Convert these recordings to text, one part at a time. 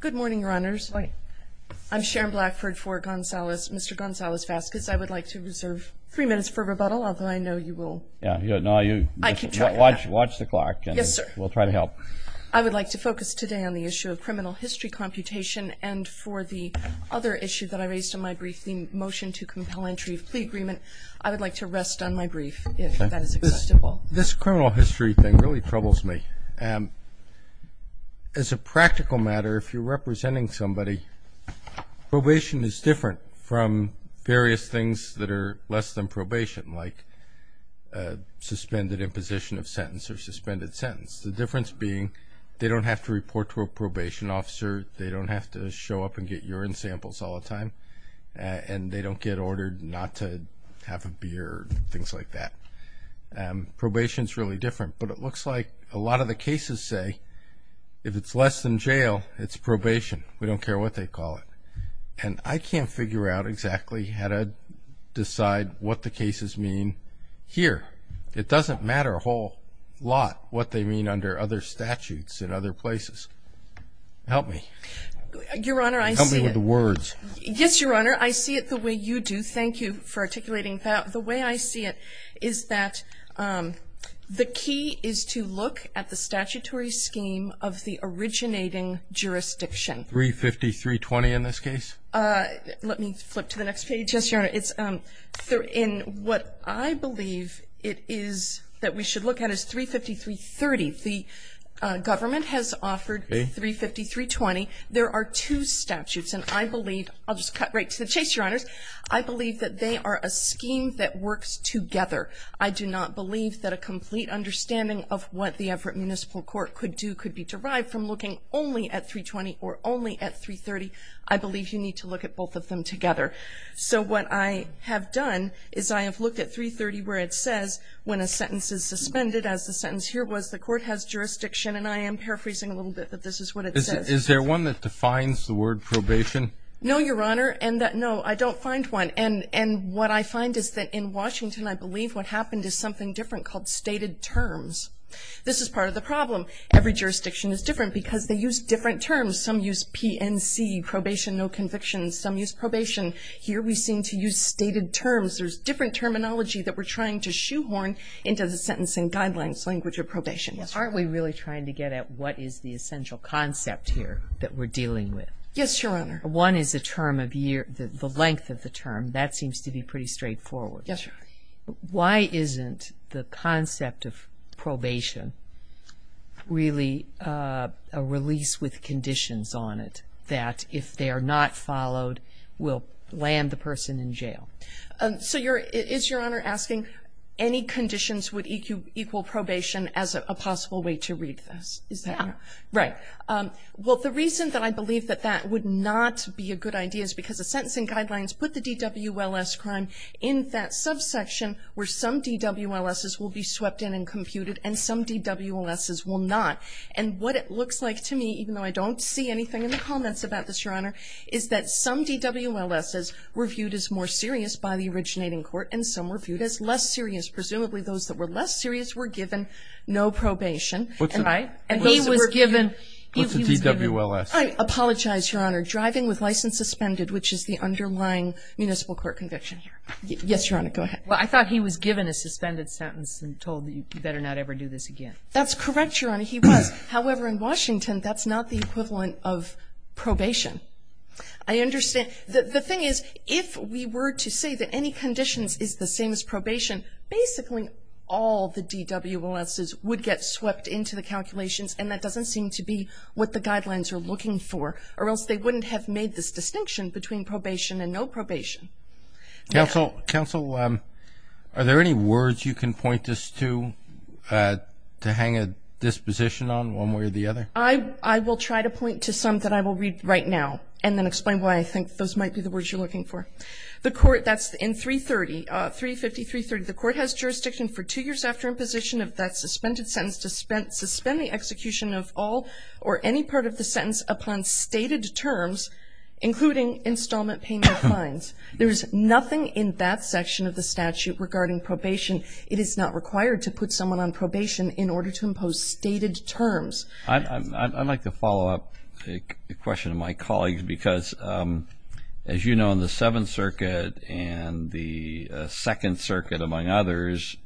Good morning, your honors. I'm Sharon Blackford for Mr. Gonzalez Vazquez. I would like to reserve three minutes for rebuttal, although I know you will. No, you watch the clock and we'll try to help. I would like to focus today on the issue of criminal history computation and for the other issue that I raised in my brief, the motion to compel entry of plea agreement. I would like to rest on my brief, if that is acceptable. Well, this criminal history thing really troubles me. As a practical matter, if you're representing somebody, probation is different from various things that are less than probation, like suspended imposition of sentence or suspended sentence, the difference being they don't have to report to a probation officer, they don't have to show up and get urine samples all the time, and they don't get ordered not to have a beer, things like that. Probation is really different, but it looks like a lot of the cases say if it's less than jail, it's probation. We don't care what they call it. And I can't figure out exactly how to decide what the cases mean here. It doesn't matter a whole lot what they mean under other statutes in other places. Help me. Your honor, I see it. Help me with the words. Yes, your honor, I see it the way you do. Thank you for articulating that. The way I see it is that the key is to look at the statutory scheme of the originating jurisdiction. 350-320 in this case? Let me flip to the next page. Yes, your honor. In what I believe it is that we should look at is 350-330. The government has offered 350-320. There are two statutes, and I believe, I'll just cut right to the chase, your honors. I believe that they are a scheme that works together. I do not believe that a complete understanding of what the Everett Municipal Court could do could be derived from looking only at 320 or only at 330. I believe you need to look at both of them together. So what I have done is I have looked at 330 where it says when a sentence is suspended, as the sentence here was, the court has jurisdiction, and I am paraphrasing a little bit that this is what it says. Is there one that defines the word probation? No, your honor. And that no, I don't find one. And what I find is that in Washington, I believe what happened is something different called stated terms. This is part of the problem. Every jurisdiction is different because they use different terms. Some use PNC, probation, no convictions. Some use probation. Here we seem to use stated terms. There's different terminology that we're trying to shoehorn into the sentencing guidelines, language of probation. Aren't we really trying to get at what is the essential concept here that we're dealing with? Yes, your honor. One is the term of year, the length of the term. That seems to be pretty straightforward. Yes, your honor. Why isn't the concept of probation really a release with conditions on it that if they are not followed will land the person in jail? So is your honor asking any conditions would equal probation as a possible way to read this? Yeah. Right. Well, the reason that I believe that that would not be a good idea is because the sentencing guidelines put the DWLS crime in that subsection where some DWLSs will be swept in and computed and some DWLSs will not. And what it looks like to me, even though I don't see anything in the comments about this, your honor, is that some DWLSs were viewed as more serious by the originating court and some were viewed as less serious. Presumably those that were less serious were given no probation. Right. And those that were given. What's a DWLS? I apologize, your honor. Driving with license suspended, which is the underlying municipal court conviction here. Yes, your honor. Go ahead. Well, I thought he was given a suspended sentence and told that you better not ever do this again. That's correct, your honor. He was. However, in Washington, that's not the equivalent of probation. I understand. The thing is, if we were to say that any conditions is the same as probation, basically all the DWLSs would get swept into the calculations, and that doesn't seem to be what the guidelines are looking for, or else they wouldn't have made this distinction between probation and no probation. Counsel, are there any words you can point this to, to hang a disposition on one way or the other? I will try to point to some that I will read right now and then explain why I think those might be the words you're looking for. Okay. The court, that's in 330, 350, 330, the court has jurisdiction for two years after imposition of that suspended sentence to suspend the execution of all or any part of the sentence upon stated terms, including installment payment fines. There is nothing in that section of the statute regarding probation. It is not required to put someone on probation in order to impose stated terms. I'd like to follow up a question of my colleagues because, as you know, the 7th Circuit and the 2nd Circuit, among others,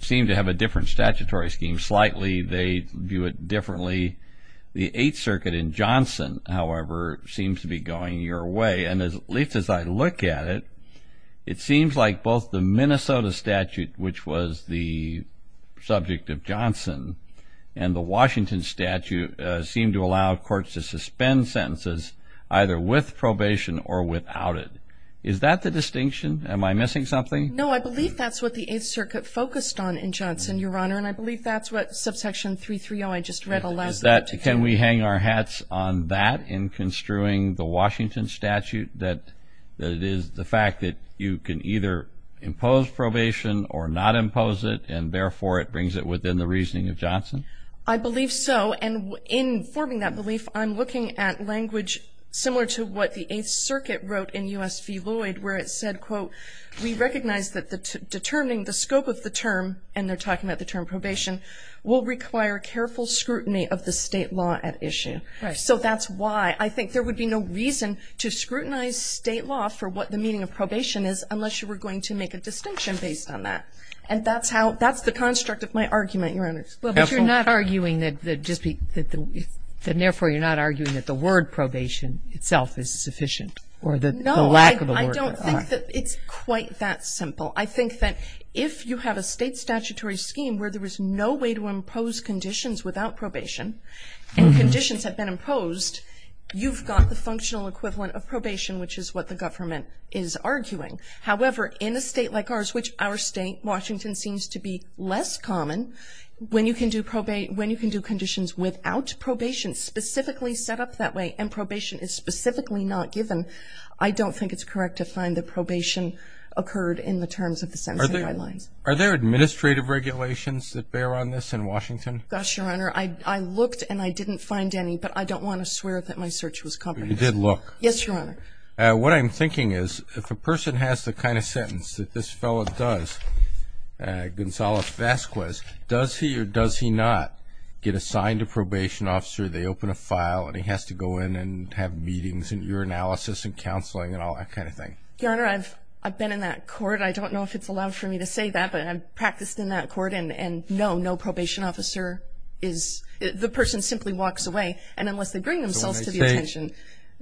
seem to have a different statutory scheme. Slightly they view it differently. The 8th Circuit in Johnson, however, seems to be going your way, and at least as I look at it, it seems like both the Minnesota statute, which was the subject of Johnson, and the Washington statute seem to allow courts to suspend sentences either with probation or without it. Is that the distinction? Am I missing something? No, I believe that's what the 8th Circuit focused on in Johnson, Your Honor, and I believe that's what subsection 330, I just read, allows that. Can we hang our hats on that in construing the Washington statute, that it is the fact that you can either impose probation or not impose it, and therefore it brings it within the reasoning of Johnson? I believe so, and in forming that belief, I'm looking at language similar to what the 8th Circuit wrote in U.S. v. Lloyd where it said, quote, we recognize that determining the scope of the term, and they're talking about the term probation, will require careful scrutiny of the state law at issue. Right. So that's why I think there would be no reason to scrutinize state law for what the meaning of probation is unless you were going to make a distinction based on that. And that's how the construct of my argument, Your Honor. Well, but you're not arguing that just be, that therefore you're not arguing that the word probation itself is sufficient or the lack of a word. No, I don't think that it's quite that simple. I think that if you have a state statutory scheme where there is no way to impose conditions without probation, and conditions have been imposed, you've got the functional equivalent of probation, which is what the government is arguing. However, in a state like ours, which our state, Washington, seems to be less common, when you can do probation, when you can do conditions without probation specifically set up that way, and probation is specifically not given, I don't think it's correct to find that probation occurred in the terms of the sentencing guidelines. Are there administrative regulations that bear on this in Washington? Gosh, Your Honor, I looked and I didn't find any, but I don't want to swear that my search was competent. But you did look. Yes, Your Honor. What I'm thinking is if a person has the kind of sentence that this fellow does, Gonzalo Vasquez, does he or does he not get assigned a probation officer, they open a file and he has to go in and have meetings and urinalysis and counseling and all that kind of thing? Your Honor, I've been in that court. I don't know if it's allowed for me to say that, but I've practiced in that court, and no, no probation officer is the person simply walks away, and unless they bring themselves to the attention,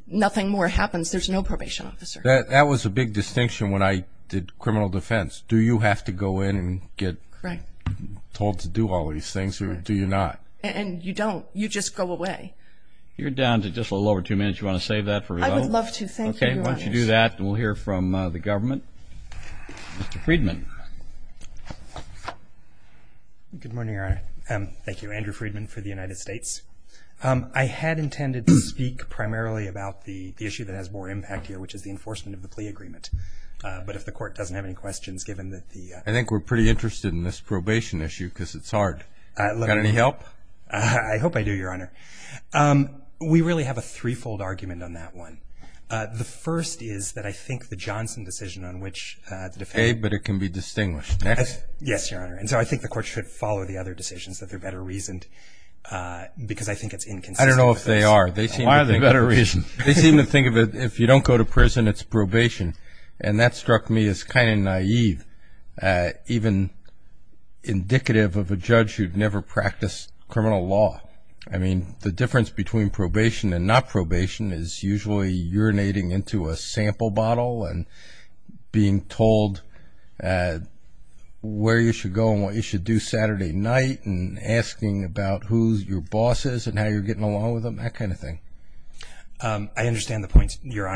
nothing more happens. There's no probation officer. That was a big distinction when I did criminal defense. Do you have to go in and get told to do all these things or do you not? And you don't. You just go away. You're down to just a little over two minutes. Do you want to save that for later? I would love to. Thank you, Your Honor. Okay, why don't you do that and we'll hear from the government. Mr. Friedman. Good morning, Your Honor. Thank you. Andrew Friedman for the United States. I had intended to speak primarily about the issue that has more impact here, which is the enforcement of the plea agreement. But if the court doesn't have any questions, given that the ---- I think we're pretty interested in this probation issue because it's hard. Got any help? I hope I do, Your Honor. We really have a three-fold argument on that one. The first is that I think the Johnson decision on which the defense ---- Okay, but it can be distinguished. Next. Yes, Your Honor. And so I think the court should follow the other decisions, that they're better reasoned, because I think it's inconsistent with those. I don't know if they are. Why are they better reasoned? They seem to think that if you don't go to prison, it's probation. And that struck me as kind of naive, even indicative of a judge who'd never practiced criminal law. I mean, the difference between probation and not probation is usually urinating into a sample bottle and being told where you should go and what you should do Saturday night and asking about who your boss is and how you're getting along with them, that kind of thing. I understand the point that Your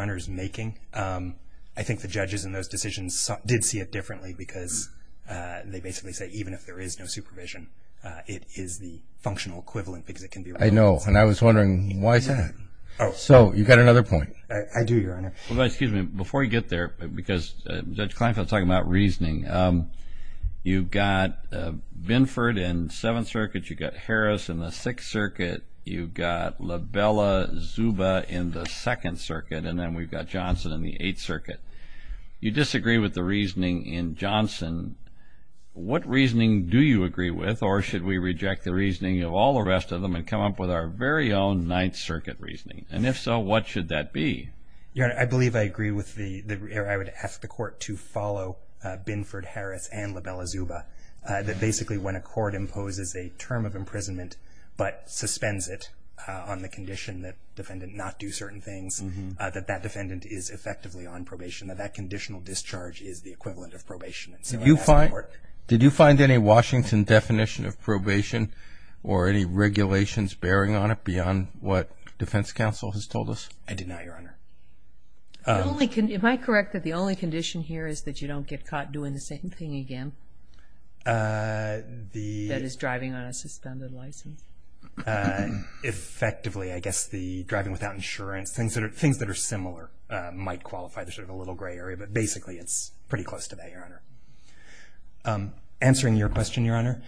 Honor is making. I think the judges in those decisions did see it differently because they basically say even if there is no supervision, it is the functional equivalent because it can be realized. I know, and I was wondering why is that? So you've got another point. I do, Your Honor. Well, excuse me. Before you get there, because Judge Kleinfeld was talking about reasoning, you've got Binford in Seventh Circuit, you've got Harris in the Sixth Circuit, you've got LaBella Zuba in the Second Circuit, and then we've got Johnson in the Eighth Circuit. You disagree with the reasoning in Johnson. What reasoning do you agree with, or should we reject the reasoning of all the rest of them and come up with our very own Ninth Circuit reasoning? And if so, what should that be? Your Honor, I believe I agree with the, or I would ask the Court to follow Binford, Harris, and LaBella Zuba, that basically when a court imposes a term of imprisonment but suspends it on the condition that defendant not do certain things, that that defendant is effectively on probation, that that conditional discharge is the equivalent of probation. Did you find any Washington definition of probation or any regulations bearing on it beyond what defense counsel has told us? I did not, Your Honor. Am I correct that the only condition here is that you don't get caught doing the same thing again? That is, driving on a suspended license. Effectively, I guess the driving without insurance, things that are similar might qualify. There's sort of a little gray area, but basically it's pretty close to that, Your Honor. Answering your question, Your Honor,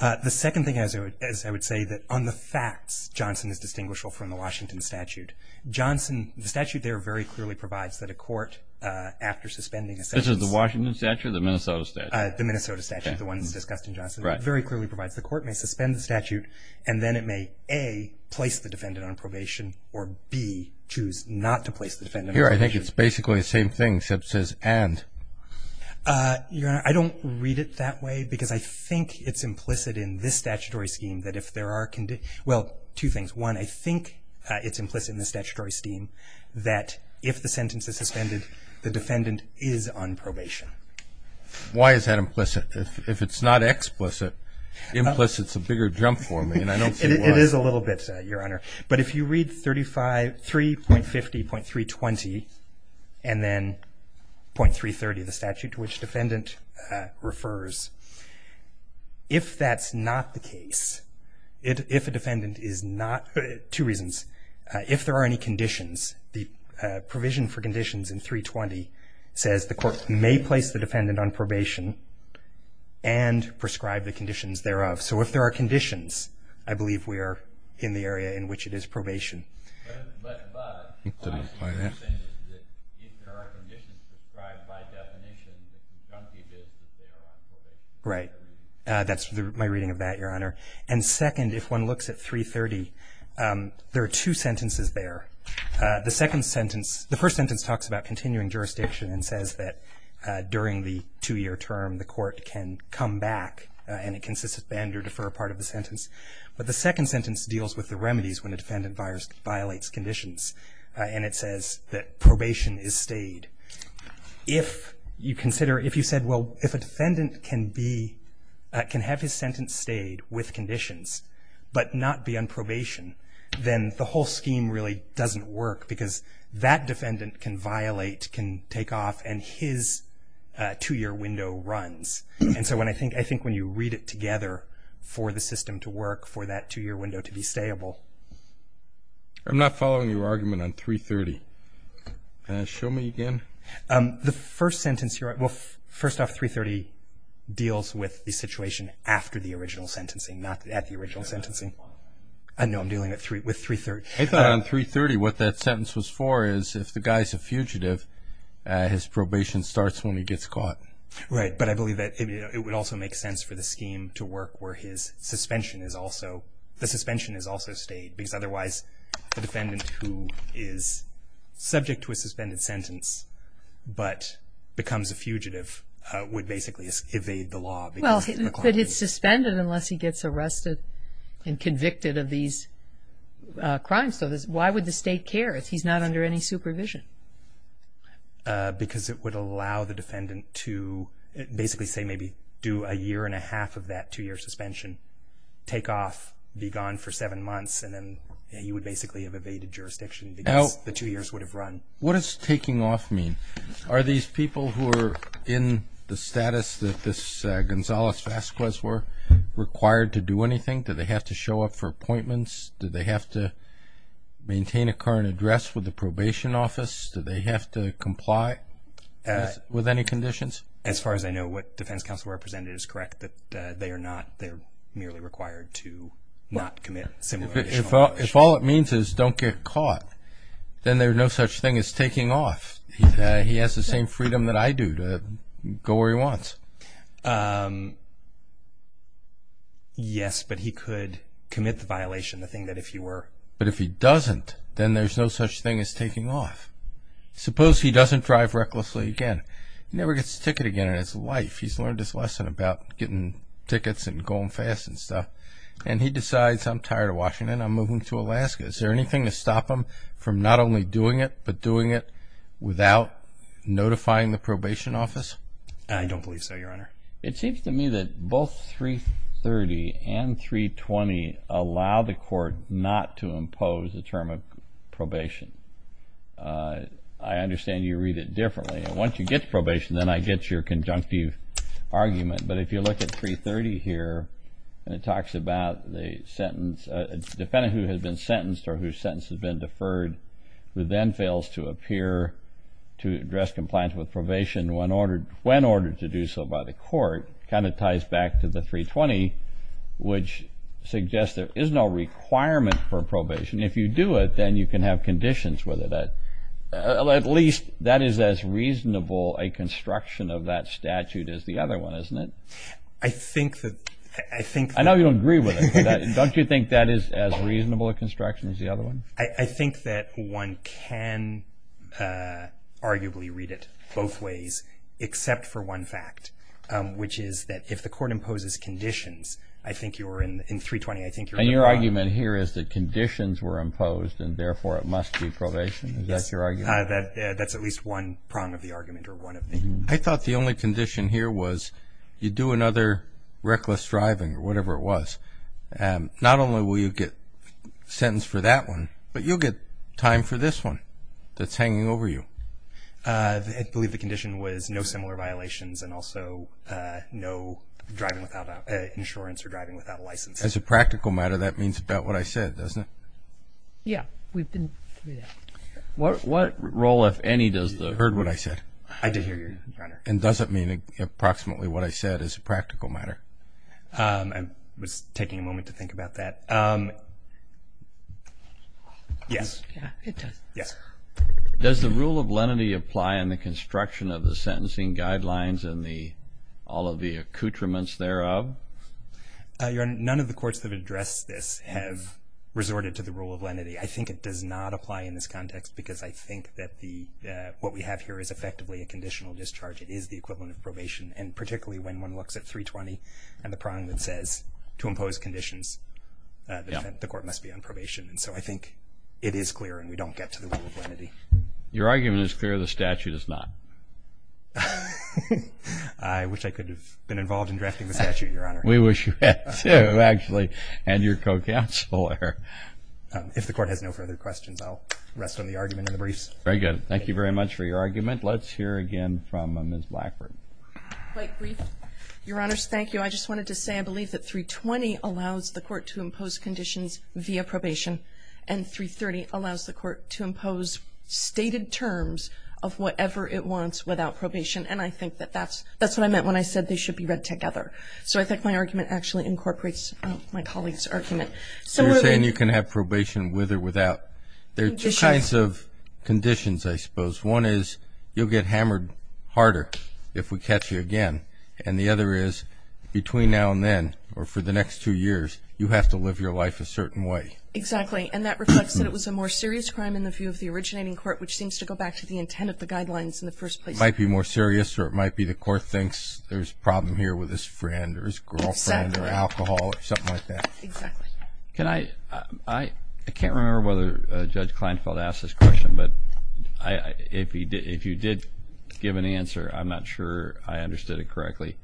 the second thing is I would say that on the facts, Johnson is distinguishable from the Washington statute. The statute there very clearly provides that a court after suspending a sentence This is the Washington statute or the Minnesota statute? The Minnesota statute, the one that's discussed in Johnson. It very clearly provides the court may suspend the statute and then it may A, place the defendant on probation, or B, choose not to place the defendant on probation. Here I think it's basically the same thing except it says and. Your Honor, I don't read it that way because I think it's implicit in this statutory scheme that if there are conditions Well, two things. One, I think it's implicit in the statutory scheme that if the sentence is suspended, the defendant is on probation. Why is that implicit? If it's not explicit, implicit's a bigger jump for me, and I don't see why. It is a little bit, Your Honor. But if you read 3.50.320 and then .330, the statute to which defendant refers, if that's not the case, if a defendant is not Two reasons. If there are any conditions, the provision for conditions in 320 says the court may place the defendant on probation and prescribe the conditions thereof. So if there are conditions, I believe we are in the area in which it is probation. But what I'm saying is that if there are conditions prescribed by definition, the conjunctive is that they are on probation. Right. That's my reading of that, Your Honor. And second, if one looks at 3.30, there are two sentences there. The second sentence, the first sentence talks about continuing jurisdiction and says that during the two-year term, the court can come back and it can suspend or defer part of the sentence. But the second sentence deals with the remedies when a defendant violates conditions, and it says that probation is stayed. If you consider, if you said, well, if a defendant can be, can have his sentence stayed with conditions but not be on probation, then the whole scheme really doesn't work because that defendant can violate, can take off, and his two-year window runs. And so I think when you read it together for the system to work, for that two-year window to be stayable. I'm not following your argument on 3.30. Show me again. The first sentence here, well, first off, 3.30 deals with the situation after the original sentencing, not at the original sentencing. No, I'm dealing with 3.30. I thought on 3.30 what that sentence was for is if the guy's a fugitive, his probation starts when he gets caught. Right, but I believe that it would also make sense for the scheme to work where his suspension is also, the suspension is also stayed because otherwise the defendant who is subject to a suspended sentence but becomes a fugitive would basically evade the law. Well, but it's suspended unless he gets arrested and convicted of these crimes. So why would the state care if he's not under any supervision? Because it would allow the defendant to basically, say, maybe do a year and a half of that two-year suspension, take off, be gone for seven months, and then he would basically have evaded jurisdiction because the two years would have run. What does taking off mean? Are these people who are in the status that this Gonzales-Vasquez were required to do anything? Do they have to show up for appointments? Do they have to maintain a current address with the probation office? Do they have to comply with any conditions? As far as I know, what defense counsel represented is correct, that they are not, they're merely required to not commit similar violations. If all it means is don't get caught, then there's no such thing as taking off. He has the same freedom that I do to go where he wants. Yes, but he could commit the violation, the thing that if he were. But if he doesn't, then there's no such thing as taking off. Suppose he doesn't drive recklessly again. He never gets a ticket again in his life. He's learned his lesson about getting tickets and going fast and stuff. And he decides, I'm tired of Washington. I'm moving to Alaska. Is there anything to stop him from not only doing it, but doing it without notifying the probation office? I don't believe so, Your Honor. It seems to me that both 330 and 320 allow the court not to impose a term of probation. I understand you read it differently. And once you get to probation, then I get your conjunctive argument. But if you look at 330 here, and it talks about the sentence, a defendant who has been sentenced or whose sentence has been deferred who then fails to appear to address compliance with probation when ordered to do so by the court, kind of ties back to the 320, which suggests there is no requirement for probation. If you do it, then you can have conditions with it. At least that is as reasonable a construction of that statute as the other one, isn't it? I think that – I know you don't agree with it. Don't you think that is as reasonable a construction as the other one? I think that one can arguably read it both ways except for one fact, which is that if the court imposes conditions, I think you're in 320. I think you're in the wrong. And your argument here is that conditions were imposed, and therefore it must be probation? Yes. Is that your argument? That's at least one prong of the argument or one of the – I thought the only condition here was you do another reckless driving or whatever it was. Not only will you get sentenced for that one, but you'll get time for this one that's hanging over you. I believe the condition was no similar violations and also no driving without insurance or driving without a license. As a practical matter, that means about what I said, doesn't it? Yes. What role, if any, does the – You heard what I said. I did hear you, Your Honor. And does it mean approximately what I said is a practical matter? I was taking a moment to think about that. Yes. It does. Yes. Does the rule of lenity apply in the construction of the sentencing guidelines and all of the accoutrements thereof? Your Honor, none of the courts that have addressed this have resorted to the rule of lenity. I think it does not apply in this context because I think that what we have here is effectively a conditional discharge. It is the equivalent of probation, and particularly when one looks at 320 and the prong that says to impose conditions, the court must be on probation. And so I think it is clear and we don't get to the rule of lenity. Your argument is clear. The statute is not. I wish I could have been involved in drafting the statute, Your Honor. We wish you had too, actually, and your co-counsel there. If the court has no further questions, I'll rest on the argument and the briefs. Very good. Thank you very much for your argument. Let's hear again from Ms. Blackburn. Quite brief. Your Honors, thank you. I just wanted to say I believe that 320 allows the court to impose conditions via probation and 330 allows the court to impose stated terms of whatever it wants without probation, and I think that that's what I meant when I said they should be read together. So I think my argument actually incorporates my colleague's argument. You're saying you can have probation with or without. There are two kinds of conditions, I suppose. One is you'll get hammered harder if we catch you again, and the other is between now and then or for the next two years, you have to live your life a certain way. Exactly, and that reflects that it was a more serious crime in the view of the originating court, which seems to go back to the intent of the guidelines in the first place. It might be more serious or it might be the court thinks there's a problem here with his friend or his girlfriend or alcohol or something like that. Exactly. I can't remember whether Judge Kleinfeld asked this question, but if you did give an answer, I'm not sure I understood it correctly.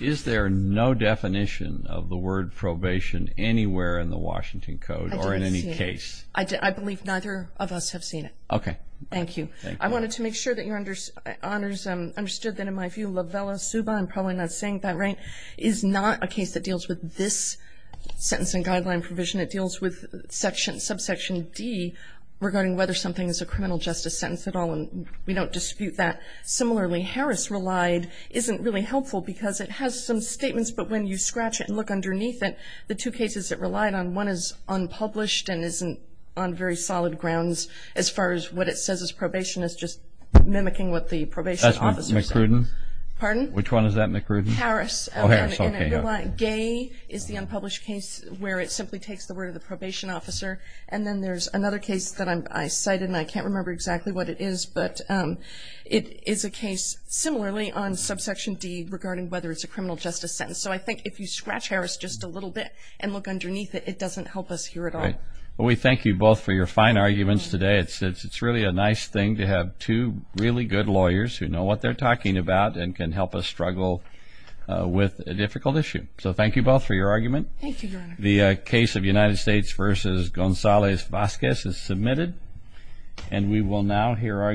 Is there no definition of the word probation anywhere in the Washington Code or in any case? I believe neither of us have seen it. Okay. Thank you. I wanted to make sure that Your Honors understood that in my view, I'm probably not saying that right, is not a case that deals with this sentence and guideline provision. It deals with subsection D regarding whether something is a criminal justice sentence at all, and we don't dispute that. Similarly, Harris relied isn't really helpful because it has some statements, but when you scratch it and look underneath it, the two cases it relied on, one is unpublished and isn't on very solid grounds as far as what it says is probation is just mimicking what the probation officer said. McCrudden? Pardon? Which one is that, McCrudden? Harris. Oh, Harris. Okay. Gay is the unpublished case where it simply takes the word of the probation officer, and then there's another case that I cited, and I can't remember exactly what it is, but it is a case similarly on subsection D regarding whether it's a criminal justice sentence. So I think if you scratch Harris just a little bit and look underneath it, it doesn't help us here at all. Well, we thank you both for your fine arguments today. It's really a nice thing to have two really good lawyers who know what they're talking about and can help us struggle with a difficult issue. So thank you both for your argument. Thank you, Your Honor. The case of United States v. Gonzalez-Vazquez is submitted, and we will now hear arguments.